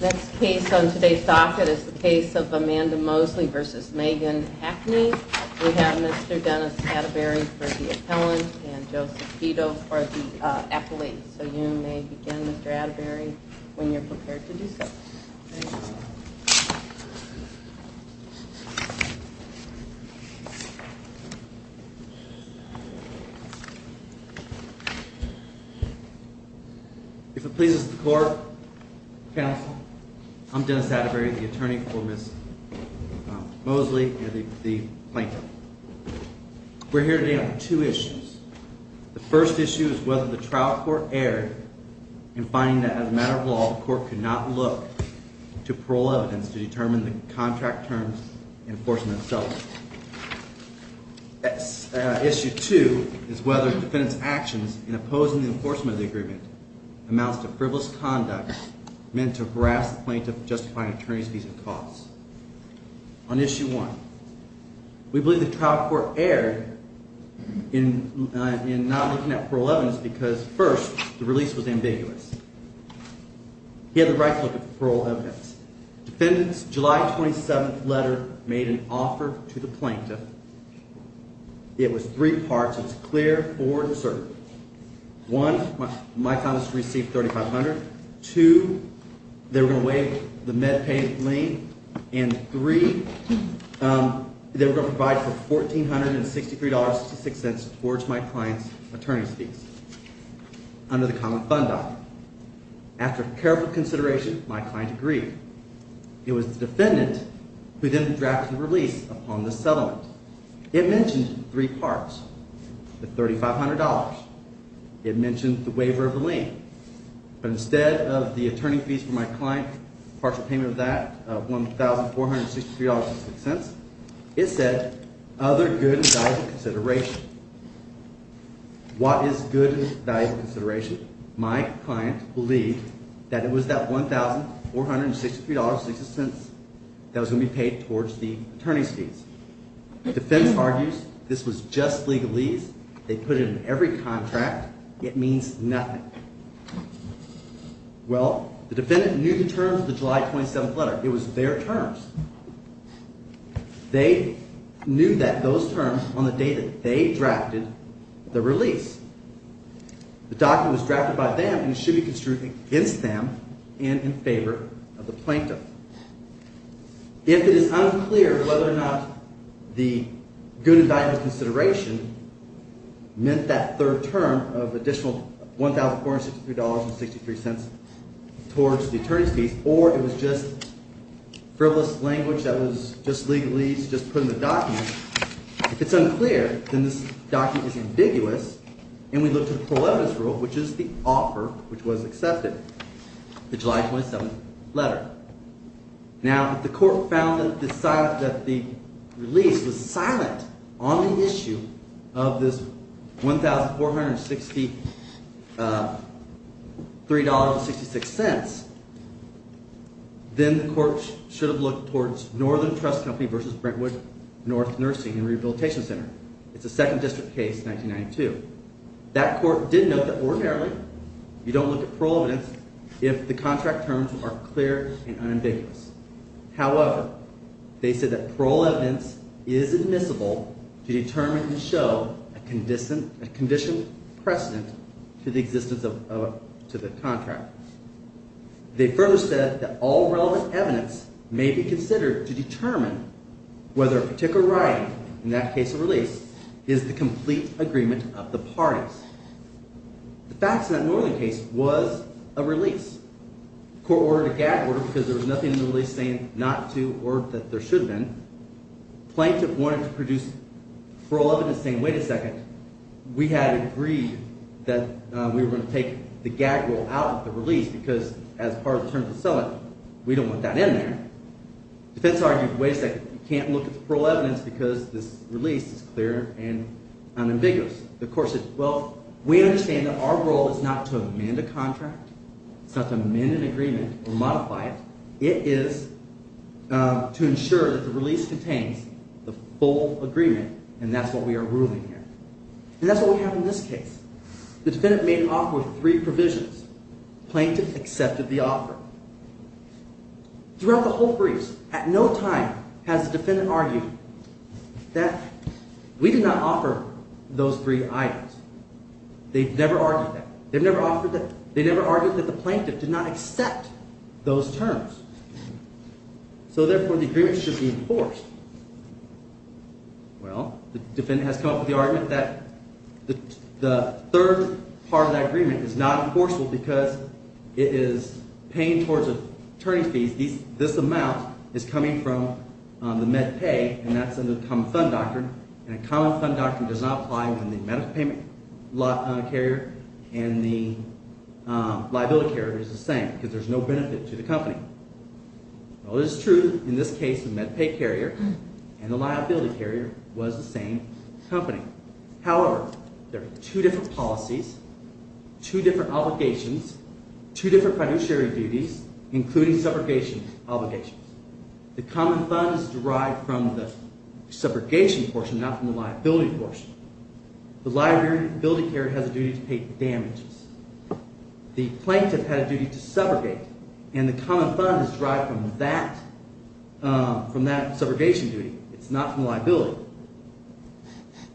This case on today's docket is the case of Amanda Mosley v. Megan Hackney. We have Mr. Dennis Atterbury for the appellant and Joseph Vito for the appellate. So you may begin Mr. Atterbury when you're prepared to do so. If it pleases the court, counsel, I'm Dennis Atterbury, the attorney for Ms. Mosley and the plaintiff. We're here today on two issues. The first issue is whether the trial court erred in finding that as a matter of law the court could not look to parole evidence to determine the contract terms and enforcement itself. Issue two is whether the defendant's actions in opposing the enforcement of the agreement amounts to frivolous conduct meant to harass the plaintiff, justify an attorney's fees and costs. On issue one, we believe the trial court erred in not looking at parole evidence because first, the release was ambiguous. He had the right to look at parole evidence. Defendant's July 27th letter made an offer to the plaintiff. It was three parts. It was clear, forward and certain. One, my client received $3,500. Two, they were going to waive the med pay lien. And three, they were going to provide for $1,463.66 towards my client's attorney's fees under the common fund document. After careful consideration, my client agreed. It was the defendant who then drafted the release upon the settlement. It mentioned three parts. The $3,500. It mentioned the waiver of the lien. But instead of the attorney fees for my client, partial payment of that, $1,463.66, it said other good and valuable consideration. What is good and valuable consideration? My client believed that it was that $1,463.66 that was going to be paid towards the attorney's fees. The defense argues this was just legalese. They put it in every contract. It means nothing. Well, the defendant knew the terms of the July 27th letter. It was their terms. They knew that those terms on the day that they drafted the release. The document was drafted by them and should be construed against them and in favor of the plaintiff. If it is unclear whether or not the good and valuable consideration meant that third term of additional $1,463.63 towards the attorney's fees or it was just frivolous language that was just legalese, just put in the document. If it's unclear, then this document is ambiguous, and we look to the Prohibitous Rule, which is the offer which was accepted, the July 27th letter. Now, if the court found that the release was silent on the issue of this $1,463.66, then the court should have looked towards Northern Trust Company v. Brentwood North Nursing and Rehabilitation Center. It's a second district case, 1992. That court did note that ordinarily you don't look at parole evidence if the contract terms are clear and unambiguous. However, they said that parole evidence is admissible to determine and show a conditional precedent to the existence of—to the contract. They further said that all relevant evidence may be considered to determine whether a particular writing, in that case a release, is the complete agreement of the parties. The facts in that Northern case was a release. The court ordered a gag order because there was nothing in the release saying not to or that there should have been. Plaintiff wanted to produce parole evidence saying, wait a second, we had agreed that we were going to take the gag rule out of the release because as part of the terms of settlement, we don't want that in there. Defense argued, wait a second, you can't look at the parole evidence because this release is clear and unambiguous. The court said, well, we understand that our role is not to amend a contract, it's not to amend an agreement or modify it. It is to ensure that the release contains the full agreement, and that's what we are ruling here. And that's what we have in this case. The defendant made an offer with three provisions. Plaintiff accepted the offer. Throughout the whole briefs, at no time has the defendant argued that we did not offer those three items. They've never argued that. They've never argued that the plaintiff did not accept those terms. So therefore, the agreement should be enforced. Well, the defendant has come up with the argument that the third part of that agreement is not enforceable because it is paying towards attorney fees. In this case, this amount is coming from the MedPay, and that's under the Common Fund Doctrine, and the Common Fund Doctrine does not apply when the medical payment carrier and the liability carrier is the same because there's no benefit to the company. Well, it is true in this case the MedPay carrier and the liability carrier was the same company. However, there are two different policies, two different obligations, two different financiary duties, including subrogation obligations. The common fund is derived from the subrogation portion, not from the liability portion. The liability carrier has a duty to pay damages. The plaintiff had a duty to subrogate, and the common fund is derived from that subrogation duty. It's not from liability.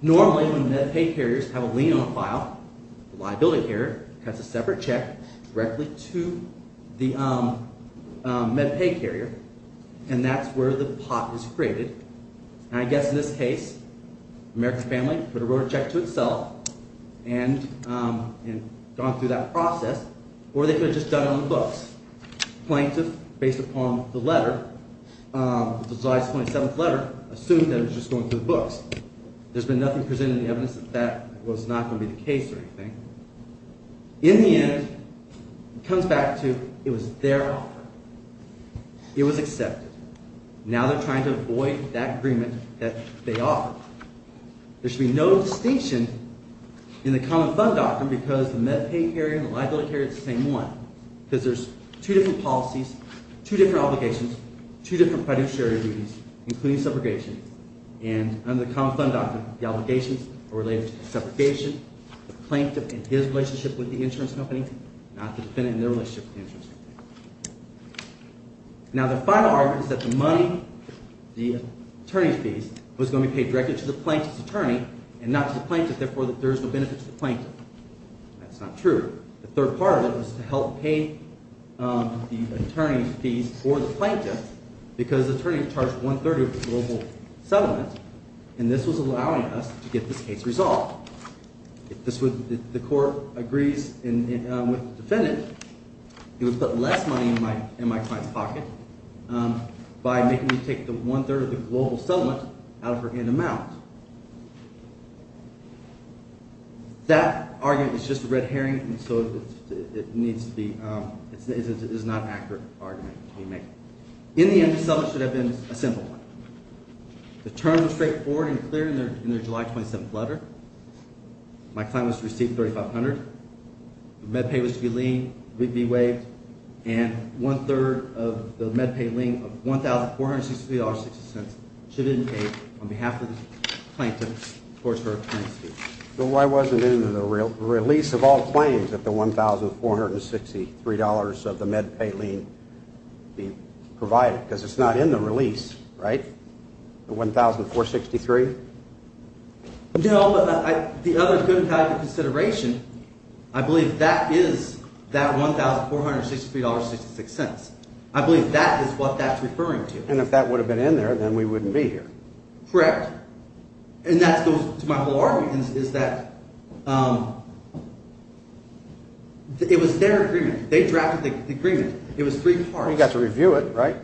Normally, when MedPay carriers have a lien on a file, the liability carrier cuts a separate check directly to the MedPay carrier, and that's where the pot is created. I guess in this case, the American family would have wrote a check to itself and gone through that process, or they could have just done it on the books. The plaintiff, based upon the letter, the July 27th letter, assumed that it was just going through the books. There's been nothing presented in the evidence that that was not going to be the case or anything. In the end, it comes back to it was their offer. It was accepted. Now they're trying to avoid that agreement that they offered. There should be no distinction in the common fund doctrine because the MedPay carrier and the liability carrier are the same one because there's two different policies, two different obligations, two different financiary duties, including subrogation. And under the common fund doctrine, the obligations are related to the subrogation, the plaintiff and his relationship with the insurance company, not the defendant and their relationship with the insurance company. Now, the final argument is that the money, the attorney's fees, was going to be paid directly to the plaintiff's attorney and not to the plaintiff. Therefore, there's no benefit to the plaintiff. That's not true. The third part of it was to help pay the attorney's fees for the plaintiff because the attorney charged one-third of the global settlement, and this was allowing us to get this case resolved. If the court agrees with the defendant, he would put less money in my client's pocket by making me take the one-third of the global settlement out of her hand amount. That argument is just a red herring, and so it needs to be – it's not an accurate argument that we make. In the end, the settlement should have been a simple one. The term was straightforward and clear in their July 27th letter. My client was to receive $3,500. The MedPay was to be waived, and one-third of the MedPay lien of $1,463.60 should have been paid on behalf of the plaintiff towards her client's fees. So why wasn't it in the release of all claims that the $1,463 of the MedPay lien be provided? Because it's not in the release, right? The $1,463? No, but the other good type of consideration, I believe that is that $1,463.66. I believe that is what that's referring to. And if that would have been in there, then we wouldn't be here. Correct. And that goes to my whole argument is that it was their agreement. They drafted the agreement. It was three parts. You got to review it, right?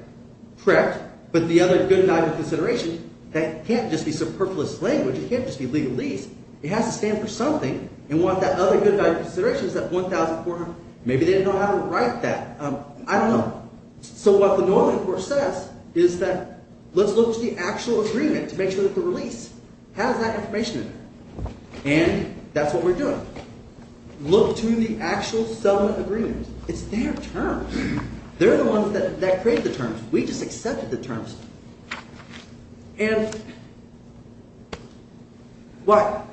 Correct. But the other good type of consideration, that can't just be superfluous language. It can't just be legalese. It has to stand for something. And what that other good type of consideration is that $1,400. Maybe they didn't know how to write that. I don't know. So what the normative court says is that let's look to the actual agreement to make sure that the release has that information in it. And that's what we're doing. Look to the actual settlement agreement. It's their terms. They're the ones that created the terms. We just accepted the terms. And what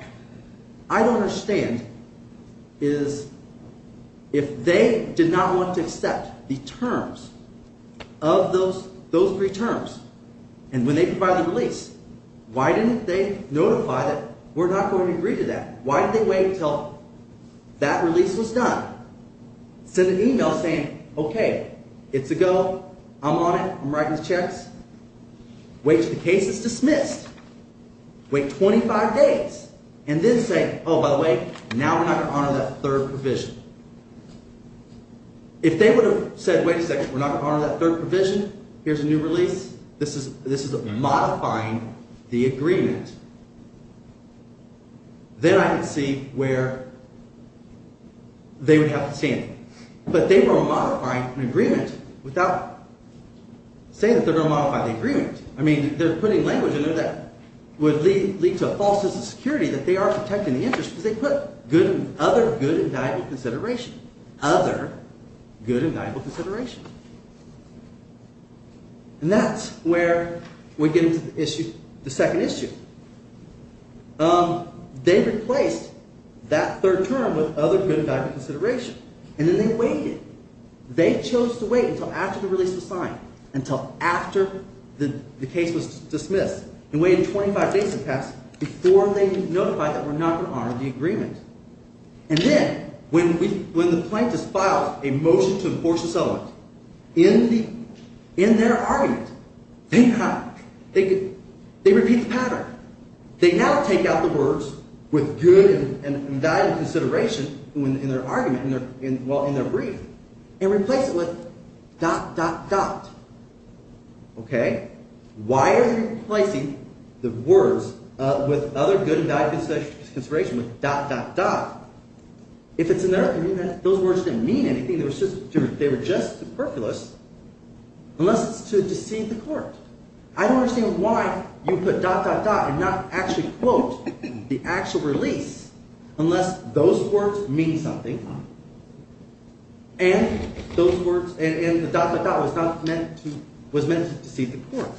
I don't understand is if they did not want to accept the terms of those three terms and when they provide the release, why didn't they notify that we're not going to agree to that? Why didn't they wait until that release was done? Send an email saying, okay, it's a go. I'm on it. I'm writing the checks. Wait till the case is dismissed. Wait 25 days and then say, oh, by the way, now we're not going to honor that third provision. If they would have said, wait a second, we're not going to honor that third provision. Here's a new release. This is modifying the agreement. Then I can see where they would have to stand. But they were modifying an agreement without saying that they're going to modify the agreement. I mean they're putting language in there that would lead to a false sense of security that they are protecting the interest because they put other good and valuable consideration. Other good and valuable consideration. And that's where we get into the issue – the second issue. They replaced that third term with other good and valuable consideration, and then they waited. They chose to wait until after the release was signed, until after the case was dismissed, and waited 25 days in the past before they notified that we're not going to honor the agreement. And then when the plaintiffs file a motion to enforce the settlement, in their argument they repeat the pattern. They now take out the words with good and valuable consideration in their argument, well, in their brief, and replace it with dot, dot, dot. Why are they replacing the words with other good and valuable consideration with dot, dot, dot? If it's in their argument, those words didn't mean anything. They were just superfluous, unless it's to deceive the court. I don't understand why you put dot, dot, dot and not actually quote the actual release unless those words mean something. And those words – and the dot, dot, dot was not meant to – was meant to deceive the court.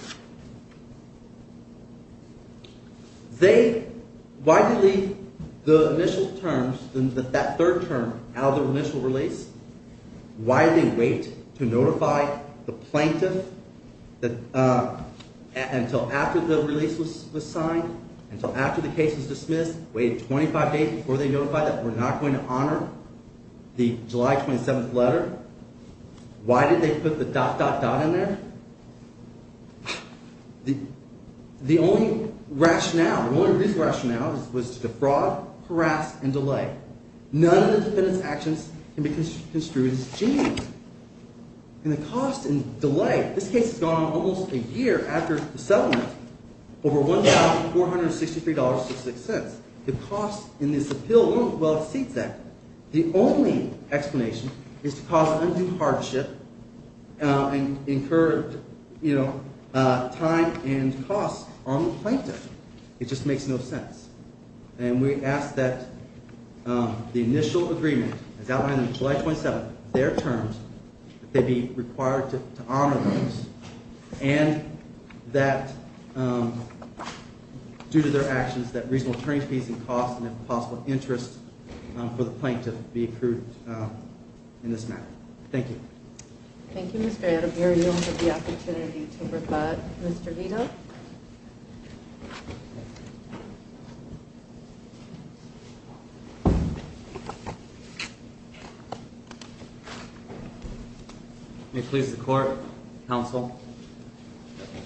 They – why did they leave the initial terms, that third term, out of the initial release? Why did they wait to notify the plaintiff until after the release was signed, until after the case was dismissed, waited 25 days before they notified that we're not going to honor the July 27th letter? Why did they put the dot, dot, dot in there? The only rationale, the only reasonable rationale, was to defraud, harass, and delay. None of the defendant's actions can be construed as genius. And the cost and delay – this case has gone on almost a year after the settlement, over $1,463.66. The cost in this appeal won't exceed that. The only explanation is to cause undue hardship and incur time and cost on the plaintiff. It just makes no sense. And we ask that the initial agreement, as outlined in July 27th, their terms, that they be required to honor those. And that due to their actions, that reasonable attorneys fees and costs and if possible, interest for the plaintiff be approved in this matter. Thank you. Thank you, Mr. Adebayor. You'll have the opportunity to rebut Mr. Vito. May it please the court, counsel.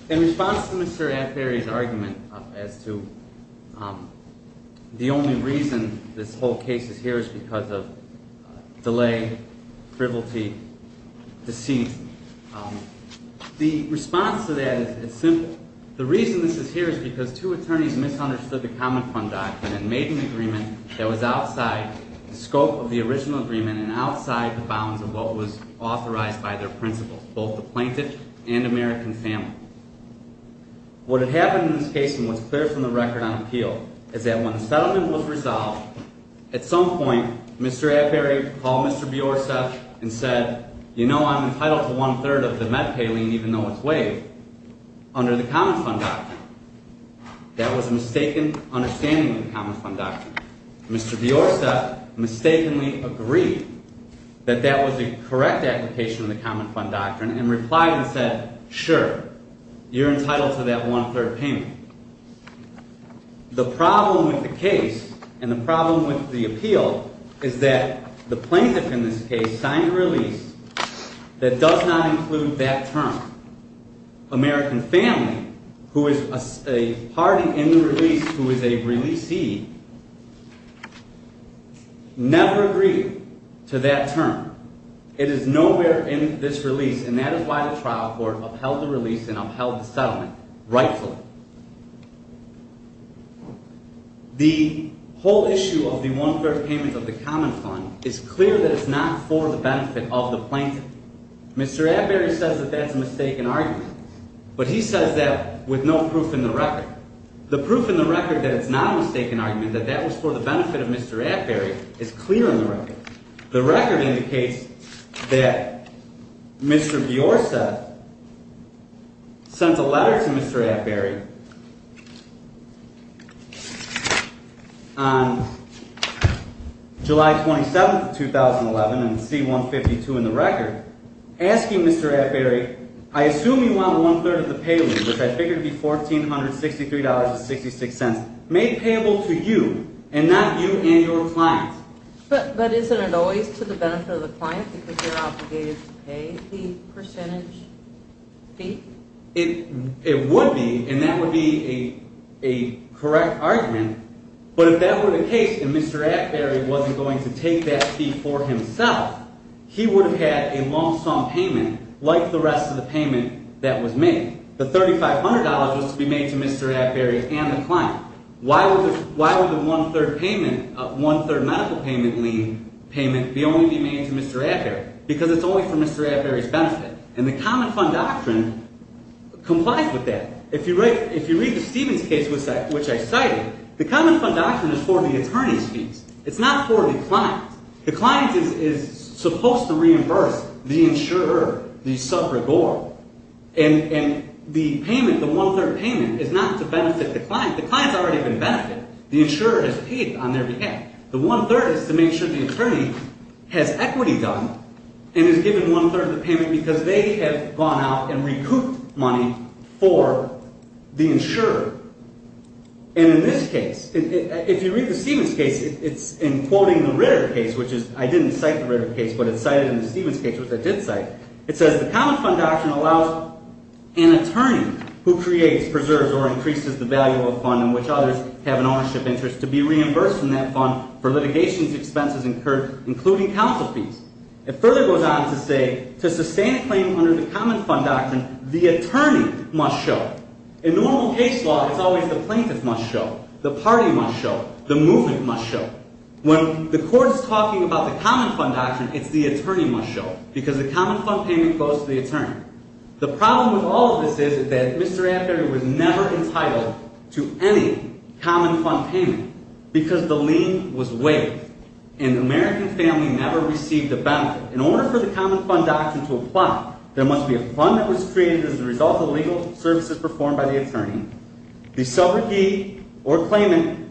In response to Mr. Atberry's argument as to the only reason this whole case is here is because of delay, frivolity, deceit. The response to that is simple. The reason this is here is because two attorneys misunderstood the Common Fund document and made an agreement that was outside the scope of the original agreement and outside the bounds of what was authorized by their principles, both the plaintiff and American family. What had happened in this case and what's clear from the record on appeal is that when the settlement was resolved, at some point, Mr. Atberry called Mr. Biorce and said, you know, I'm entitled to one-third of the MedPay lien even though it's waived under the Common Fund document. That was a mistaken understanding of the Common Fund document. Mr. Biorce mistakenly agreed that that was a correct application of the Common Fund document and replied and said, sure, you're entitled to that one-third payment. The problem with the case and the problem with the appeal is that the plaintiff in this case signed a release that does not include that term. American family, who is a party in the release, who is a releasee, never agreed to that term. It is nowhere in this release, and that is why the trial court upheld the release and upheld the settlement rightfully. The whole issue of the one-third payment of the Common Fund is clear that it's not for the benefit of the plaintiff. Mr. Atberry says that that's a mistaken argument, but he says that with no proof in the record. The proof in the record that it's not a mistaken argument, that that was for the benefit of Mr. Atberry, is clear in the record. The record indicates that Mr. Biorce sent a letter to Mr. Atberry on July 27, 2011, in C-152 in the record, asking Mr. Atberry, I assume you want one-third of the payload, which I figure to be $1,463.66, made payable to you and not you and your client. But isn't it always to the benefit of the client because they're obligated to pay the percentage fee? It would be, and that would be a correct argument, but if that were the case and Mr. Atberry wasn't going to take that fee for himself, he would have had a long-sum payment like the rest of the payment that was made. The $3,500 was to be made to Mr. Atberry and the client. Why would the one-third medical payment lien payment be only made to Mr. Atberry? Because it's only for Mr. Atberry's benefit. And the Common Fund Doctrine complies with that. If you read the Stevens case, which I cited, the Common Fund Doctrine is for the attorney's fees. It's not for the client. The client is supposed to reimburse the insurer, the subrigore. And the payment, the one-third payment, is not to benefit the client. The client's already been benefited. The insurer has paid on their behalf. The one-third is to make sure the attorney has equity done and is given one-third of the payment because they have gone out and recouped money for the insurer. And in this case, if you read the Stevens case, it's in quoting the Ritter case, which is, I didn't cite the Ritter case, but it's cited in the Stevens case, which I did cite. It says, the Common Fund Doctrine allows an attorney who creates, preserves, or increases the value of a fund in which others have an ownership interest to be reimbursed from that fund for litigation expenses incurred, including counsel fees. It further goes on to say, to sustain a claim under the Common Fund Doctrine, the attorney must show. In normal case law, it's always the plaintiff must show, the party must show, the movement must show. When the court is talking about the Common Fund Doctrine, it's the attorney must show because the Common Fund payment goes to the attorney. The problem with all of this is that Mr. Affary was never entitled to any Common Fund payment because the lien was waived. And the American family never received a benefit. In order for the Common Fund Doctrine to apply, there must be a fund that was created as a result of legal services performed by the attorney. The subrogee or claimant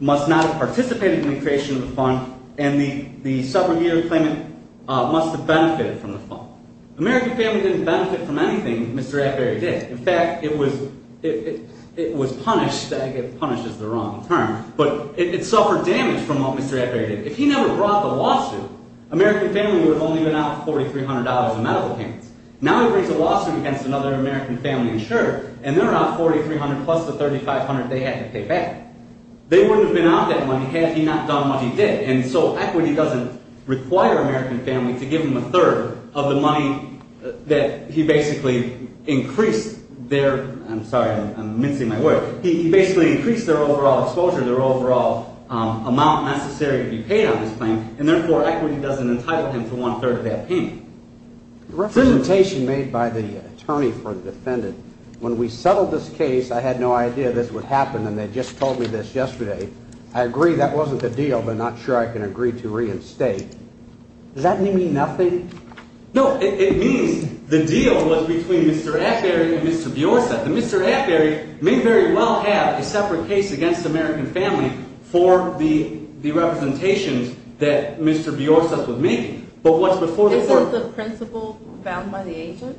must not have participated in the creation of the fund, and the subrogee or claimant must have benefited from the fund. The American family didn't benefit from anything Mr. Affary did. In fact, it was punished. I get punished is the wrong term. But it suffered damage from what Mr. Affary did. If he never brought the lawsuit, American family would have only been out $4,300 in medical payments. Now he brings a lawsuit against another American family insurer, and they're out $4,300 plus the $3,500 they had to pay back. They wouldn't have been out that money had he not done what he did. And so equity doesn't require American family to give him a third of the money that he basically increased their – I'm sorry, I'm mincing my word. He basically increased their overall exposure, their overall amount necessary to be paid on this claim, and therefore equity doesn't entitle him to one-third of that payment. The representation made by the attorney for the defendant, when we settled this case, I had no idea this would happen, and they just told me this yesterday. I agree that wasn't the deal, but I'm not sure I can agree to reinstate. Does that mean nothing? No, it means the deal was between Mr. Affary and Mr. Biorsa. Mr. Affary may very well have a separate case against American family for the representations that Mr. Biorsa would make, but what's before the court – Isn't the principal bound by the agent?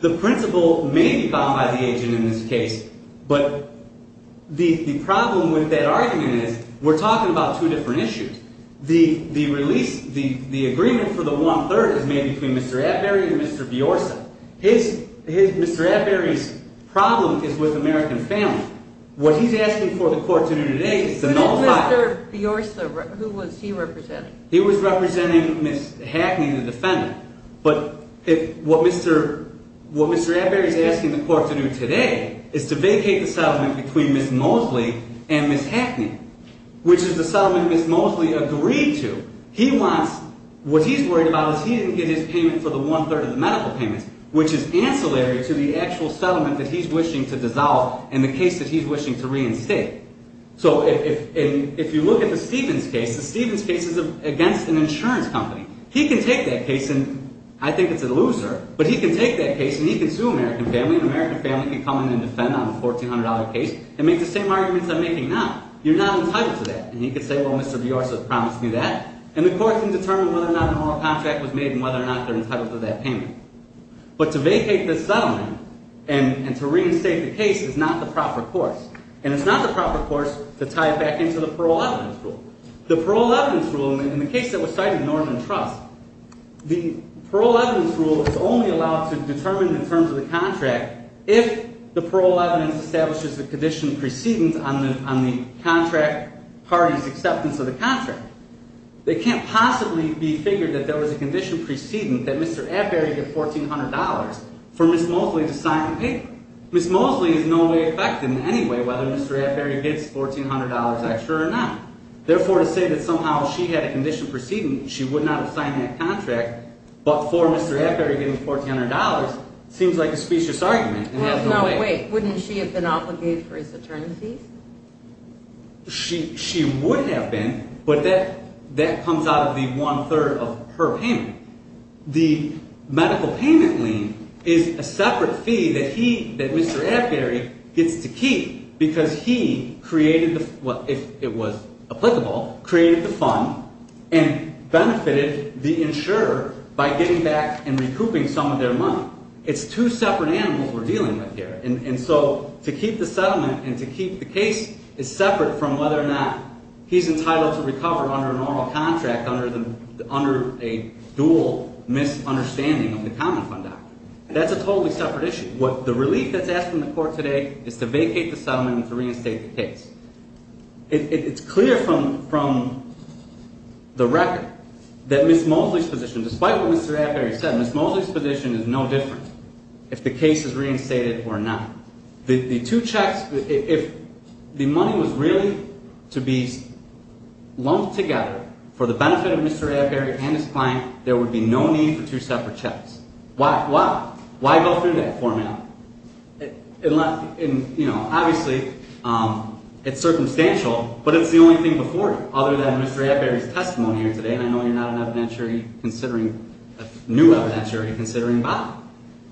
The principal may be bound by the agent in this case, but the problem with that argument is we're talking about two different issues. The agreement for the one-third is made between Mr. Affary and Mr. Biorsa. Mr. Affary's problem is with American family. What he's asking for the court to do today is to nullify – Who did Mr. Biorsa – who was he representing? He was representing Ms. Hackney, the defendant. But what Mr. Affary is asking the court to do today is to vacate the settlement between Ms. Mosley and Ms. Hackney, which is the settlement Ms. Mosley agreed to. What he's worried about is he didn't get his payment for the one-third of the medical payments, which is ancillary to the actual settlement that he's wishing to dissolve and the case that he's wishing to reinstate. So if you look at the Stevens case, the Stevens case is against an insurance company. He can take that case, and I think it's a loser, but he can take that case and he can sue American family, and American family can come in and defend on a $1,400 case and make the same arguments I'm making now. You're not entitled to that. And he can say, well, Mr. Biorsa promised me that, and the court can determine whether or not an oral contract was made and whether or not they're entitled to that payment. But to vacate this settlement and to reinstate the case is not the proper course. And it's not the proper course to tie it back into the parole evidence rule. The parole evidence rule, in the case that was cited, Norman Trust, the parole evidence rule is only allowed to determine the terms of the contract if the parole evidence establishes the condition precedence on the contract party's acceptance of the contract. They can't possibly be figured that there was a condition precedence that Mr. Atbury get $1,400 for Ms. Mosley to sign the paper. Ms. Mosley is in no way affected in any way whether Mr. Atbury gets $1,400 extra or not. Therefore, to say that somehow she had a condition precedence, she would not have signed that contract, but for Mr. Atbury getting $1,400 seems like a specious argument. No, wait. Wouldn't she have been obligated for his paternity? She would have been, but that comes out of the one-third of her payment. The medical payment lien is a separate fee that he, that Mr. Atbury gets to keep because he created the, if it was applicable, created the fund and benefited the insurer by getting back and recouping some of their money. It's two separate animals we're dealing with here. And so to keep the settlement and to keep the case is separate from whether or not he's entitled to recover under a normal contract under a dual misunderstanding of the common fund doctrine. That's a totally separate issue. The relief that's asked from the court today is to vacate the settlement and to reinstate the case. It's clear from the record that Ms. Mosley's position, despite what Mr. Atbury said, Ms. Mosley's position is no different if the case is reinstated or not. The two checks, if the money was really to be lumped together for the benefit of Mr. Atbury and his client, there would be no need for two separate checks. Why? Why go through that formality? Obviously, it's circumstantial, but it's the only thing before it, other than Mr. Atbury's testimony here today, and I know you're not a new evidentiary considering Bob.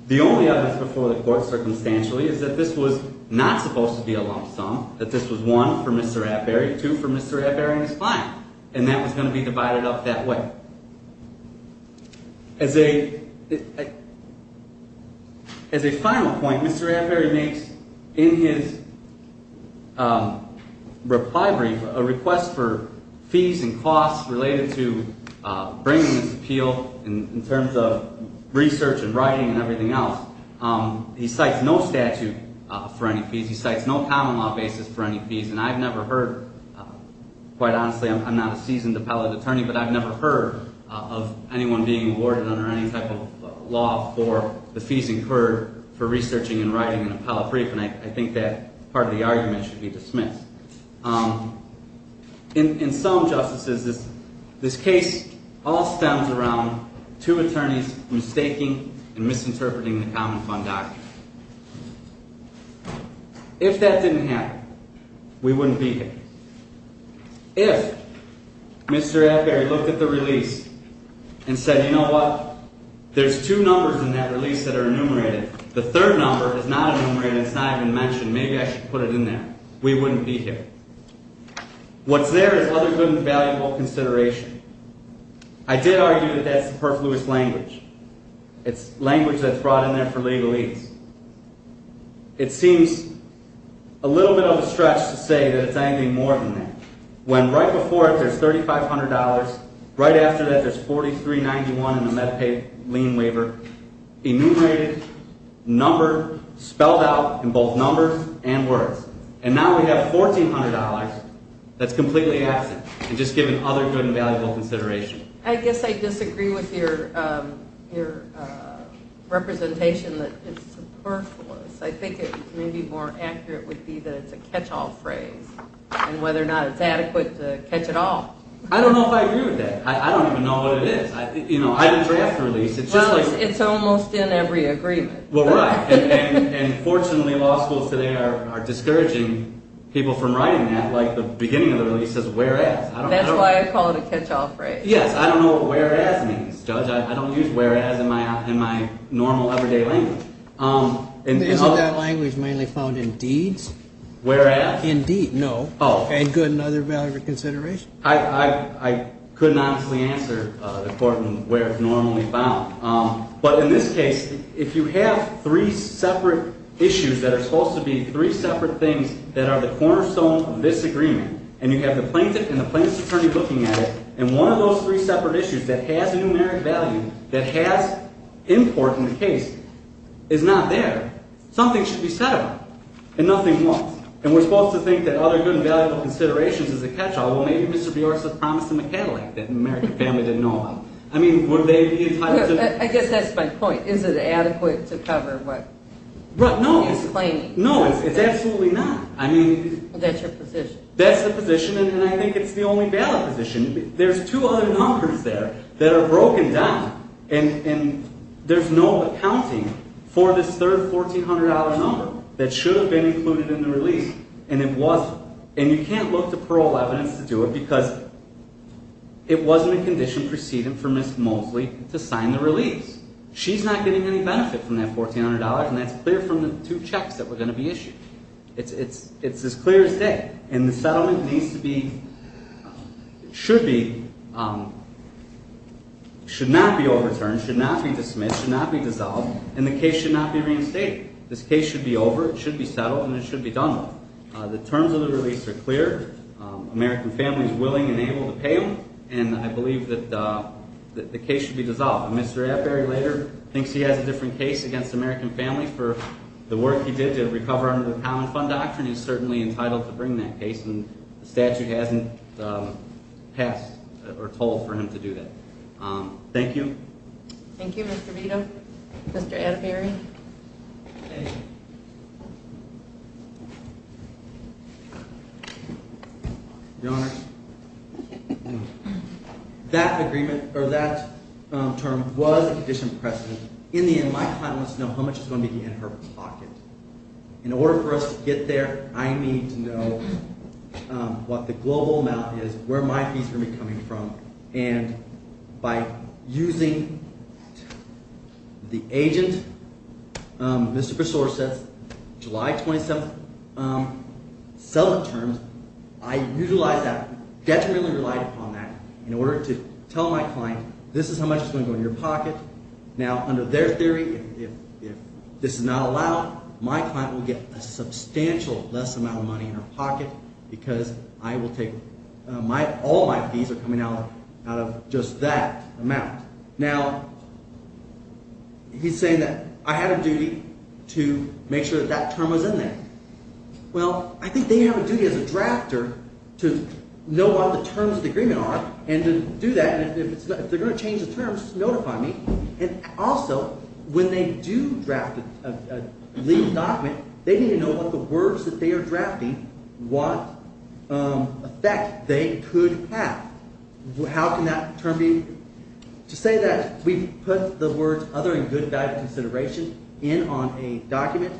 The only evidence before the court circumstantially is that this was not supposed to be a lump sum, that this was one for Mr. Atbury, two for Mr. Atbury and his client. And that was going to be divided up that way. As a final point, Mr. Atbury makes, in his reply brief, a request for fees and costs related to bringing this appeal in terms of research and writing and everything else. He cites no statute for any fees. He cites no common law basis for any fees. And I've never heard, quite honestly, I'm not a seasoned appellate attorney, but I've never heard of anyone being awarded under any type of law for the fees incurred for researching and writing an appellate brief. And I think that part of the argument should be dismissed. In some justices, this case all stems around two attorneys mistaking and misinterpreting the common fund doctrine. If that didn't happen, we wouldn't be here. If Mr. Atbury looked at the release and said, you know what, there's two numbers in that release that are enumerated. The third number is not enumerated. It's not even mentioned. Maybe I should put it in there. We wouldn't be here. What's there is other good and valuable consideration. I did argue that that's the perfluous language. It's language that's brought in there for legal ease. It seems a little bit overstretched to say that it's anything more than that. When right before it, there's $3,500. Right after that, there's $4,391 in the MedPay lien waiver, enumerated, numbered, spelled out in both numbers and words. And now we have $1,400 that's completely absent and just given other good and valuable consideration. I guess I disagree with your representation that it's superfluous. I think it may be more accurate would be that it's a catch-all phrase and whether or not it's adequate to catch it all. I don't know if I agree with that. I don't even know what it is. I didn't draft the release. Well, it's almost in every agreement. Well, right. And fortunately, law schools today are discouraging people from writing that, like the beginning of the release says, whereas. That's why I call it a catch-all phrase. Yes. I don't know what whereas means, Judge. I don't use whereas in my normal, everyday language. Isn't that language mainly found in deeds? Whereas? Indeed. No. Oh. And good and other valuable consideration. I couldn't honestly answer according to where it's normally found. But in this case, if you have three separate issues that are supposed to be three separate things that are the cornerstone of this agreement, and you have the plaintiff and the plaintiff's attorney looking at it, and one of those three separate issues that has a numeric value, that has import in the case, is not there, something should be said about it. And nothing was. And we're supposed to think that other good and valuable considerations is a catch-all. Well, maybe Mr. Bjorks has promised to McAdillac that the American family didn't know about. I mean, would they be entitled to… I guess that's my point. Is it adequate to cover what he's claiming? No. No, it's absolutely not. That's your position. That's the position, and I think it's the only valid position. There's two other numbers there that are broken down, and there's no accounting for this third $1,400 number that should have been included in the release, and it wasn't. And you can't look to parole evidence to do it because it wasn't a condition preceded for Ms. Mosley to sign the release. She's not getting any benefit from that $1,400, and that's clear from the two checks that were going to be issued. It's as clear as day. And the settlement needs to be – should be – should not be overturned, should not be dismissed, should not be dissolved, and the case should not be reinstated. This case should be over. It should be settled, and it should be done. The terms of the release are clear. American family is willing and able to pay them, and I believe that the case should be dissolved. Mr. Atberry later thinks he has a different case against American family for the work he did to recover under the Common Fund Doctrine. He's certainly entitled to bring that case, and the statute hasn't passed or told for him to do that. Thank you. Thank you, Mr. Vito. Mr. Atberry. Thank you. Your Honors, that agreement – or that term was a condition of precedent. In the end, my client wants to know how much is going to be in her pocket. In order for us to get there, I need to know what the global amount is, where my fees are going to be coming from, and by using the agent, Mr. Bristol, who says July 27th settlement terms, I utilize that – detrimentally relied upon that in order to tell my client this is how much is going to go in your pocket. Now, under their theory, if this is not allowed, my client will get a substantial less amount of money in her pocket because I will take – all my fees are coming out of just that amount. Now, he's saying that I had a duty to make sure that that term was in there. Well, I think they have a duty as a drafter to know what the terms of the agreement are and to do that, and if they're going to change the terms, notify me. And also, when they do draft a legal document, they need to know what the words that they are drafting, what effect they could have. How can that term be – to say that we put the words other and good value consideration in on a document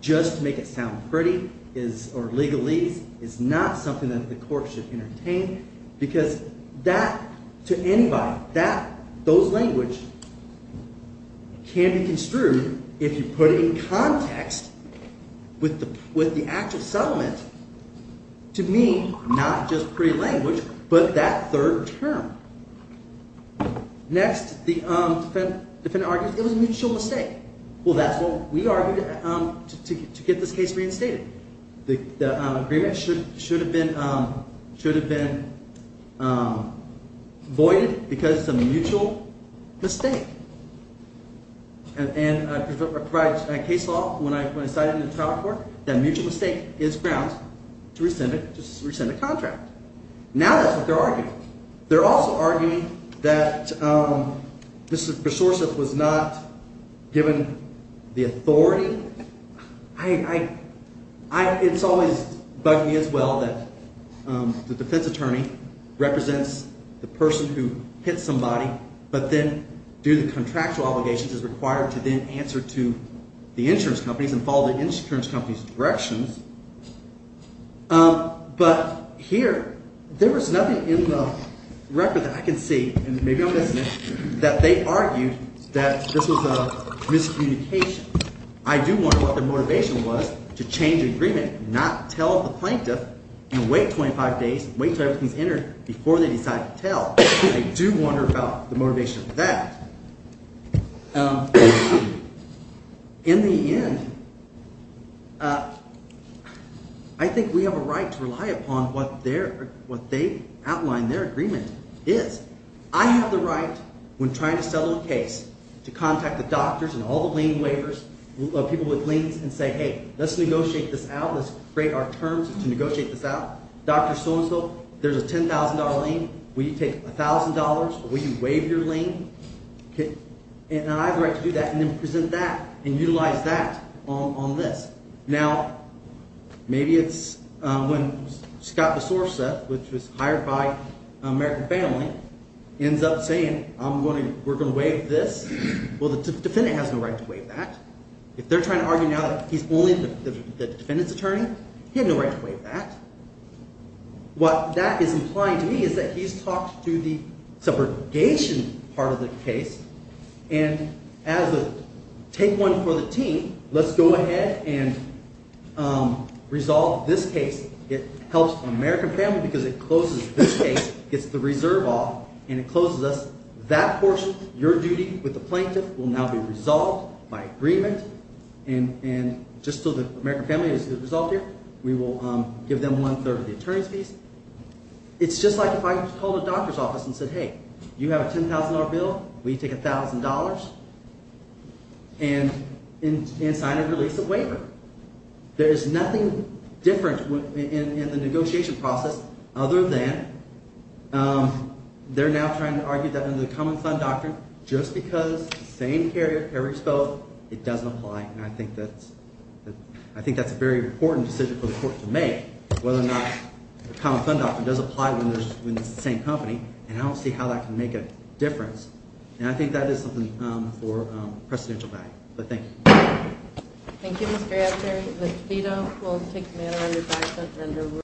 just to make it sound pretty is – or legalese is not something that the court should entertain because that – to anybody, that – those language can be construed if you put it in context with the actual settlement to mean not just pretty language but that third term. Next, the defendant argues it was a mutual mistake. Well, that's what we argued to get this case reinstated. The agreement should have been voided because it's a mutual mistake. And I provide case law when I cite it in the trial court that a mutual mistake is grounds to rescind a contract. They're also arguing that this resource was not given the authority. I – it's always bugging me as well that the defense attorney represents the person who hit somebody but then due to contractual obligations is required to then answer to the insurance companies and follow the insurance company's directions. But here, there was nothing in the record that I can see, and maybe I'm missing it, that they argued that this was a miscommunication. I do wonder what their motivation was to change the agreement, not tell the plaintiff, and wait 25 days, wait until everything's entered before they decide to tell. I do wonder about the motivation for that. In the end, I think we have a right to rely upon what their – what they outlined their agreement is. I have the right, when trying to settle a case, to contact the doctors and all the lien waivers, people with liens, and say, hey, let's negotiate this out. Let's create our terms to negotiate this out. Dr. So-and-so, there's a $10,000 lien. Will you take $1,000 or will you waive your lien? And I have the right to do that and then present that and utilize that on this. Now, maybe it's when Scott DeSouza, which was hired by American Family, ends up saying I'm going to – we're going to waive this. Well, the defendant has no right to waive that. If they're trying to argue now that he's only the defendant's attorney, he had no right to waive that. What that is implying to me is that he's talked to the subrogation part of the case, and as a take one for the team, let's go ahead and resolve this case. It helps American Family because it closes this case, gets the reserve off, and it closes us. That portion, your duty with the plaintiff, will now be resolved by agreement, and just so the American Family is resolved here, we will give them one-third of the attorney's fees. It's just like if I called a doctor's office and said, hey, you have a $10,000 bill. Will you take $1,000 and sign and release a waiver? There is nothing different in the negotiation process other than they're now trying to argue that in the common fund doctrine, just because the same carrier carries both, it doesn't apply. And I think that's a very important decision for the court to make, whether or not the common fund doctrine does apply when it's the same company, and I don't see how that can make a difference. And I think that is something for precedential value, but thank you. Thank you, Mr. Ashton. Ms. Beto will take mail in the background.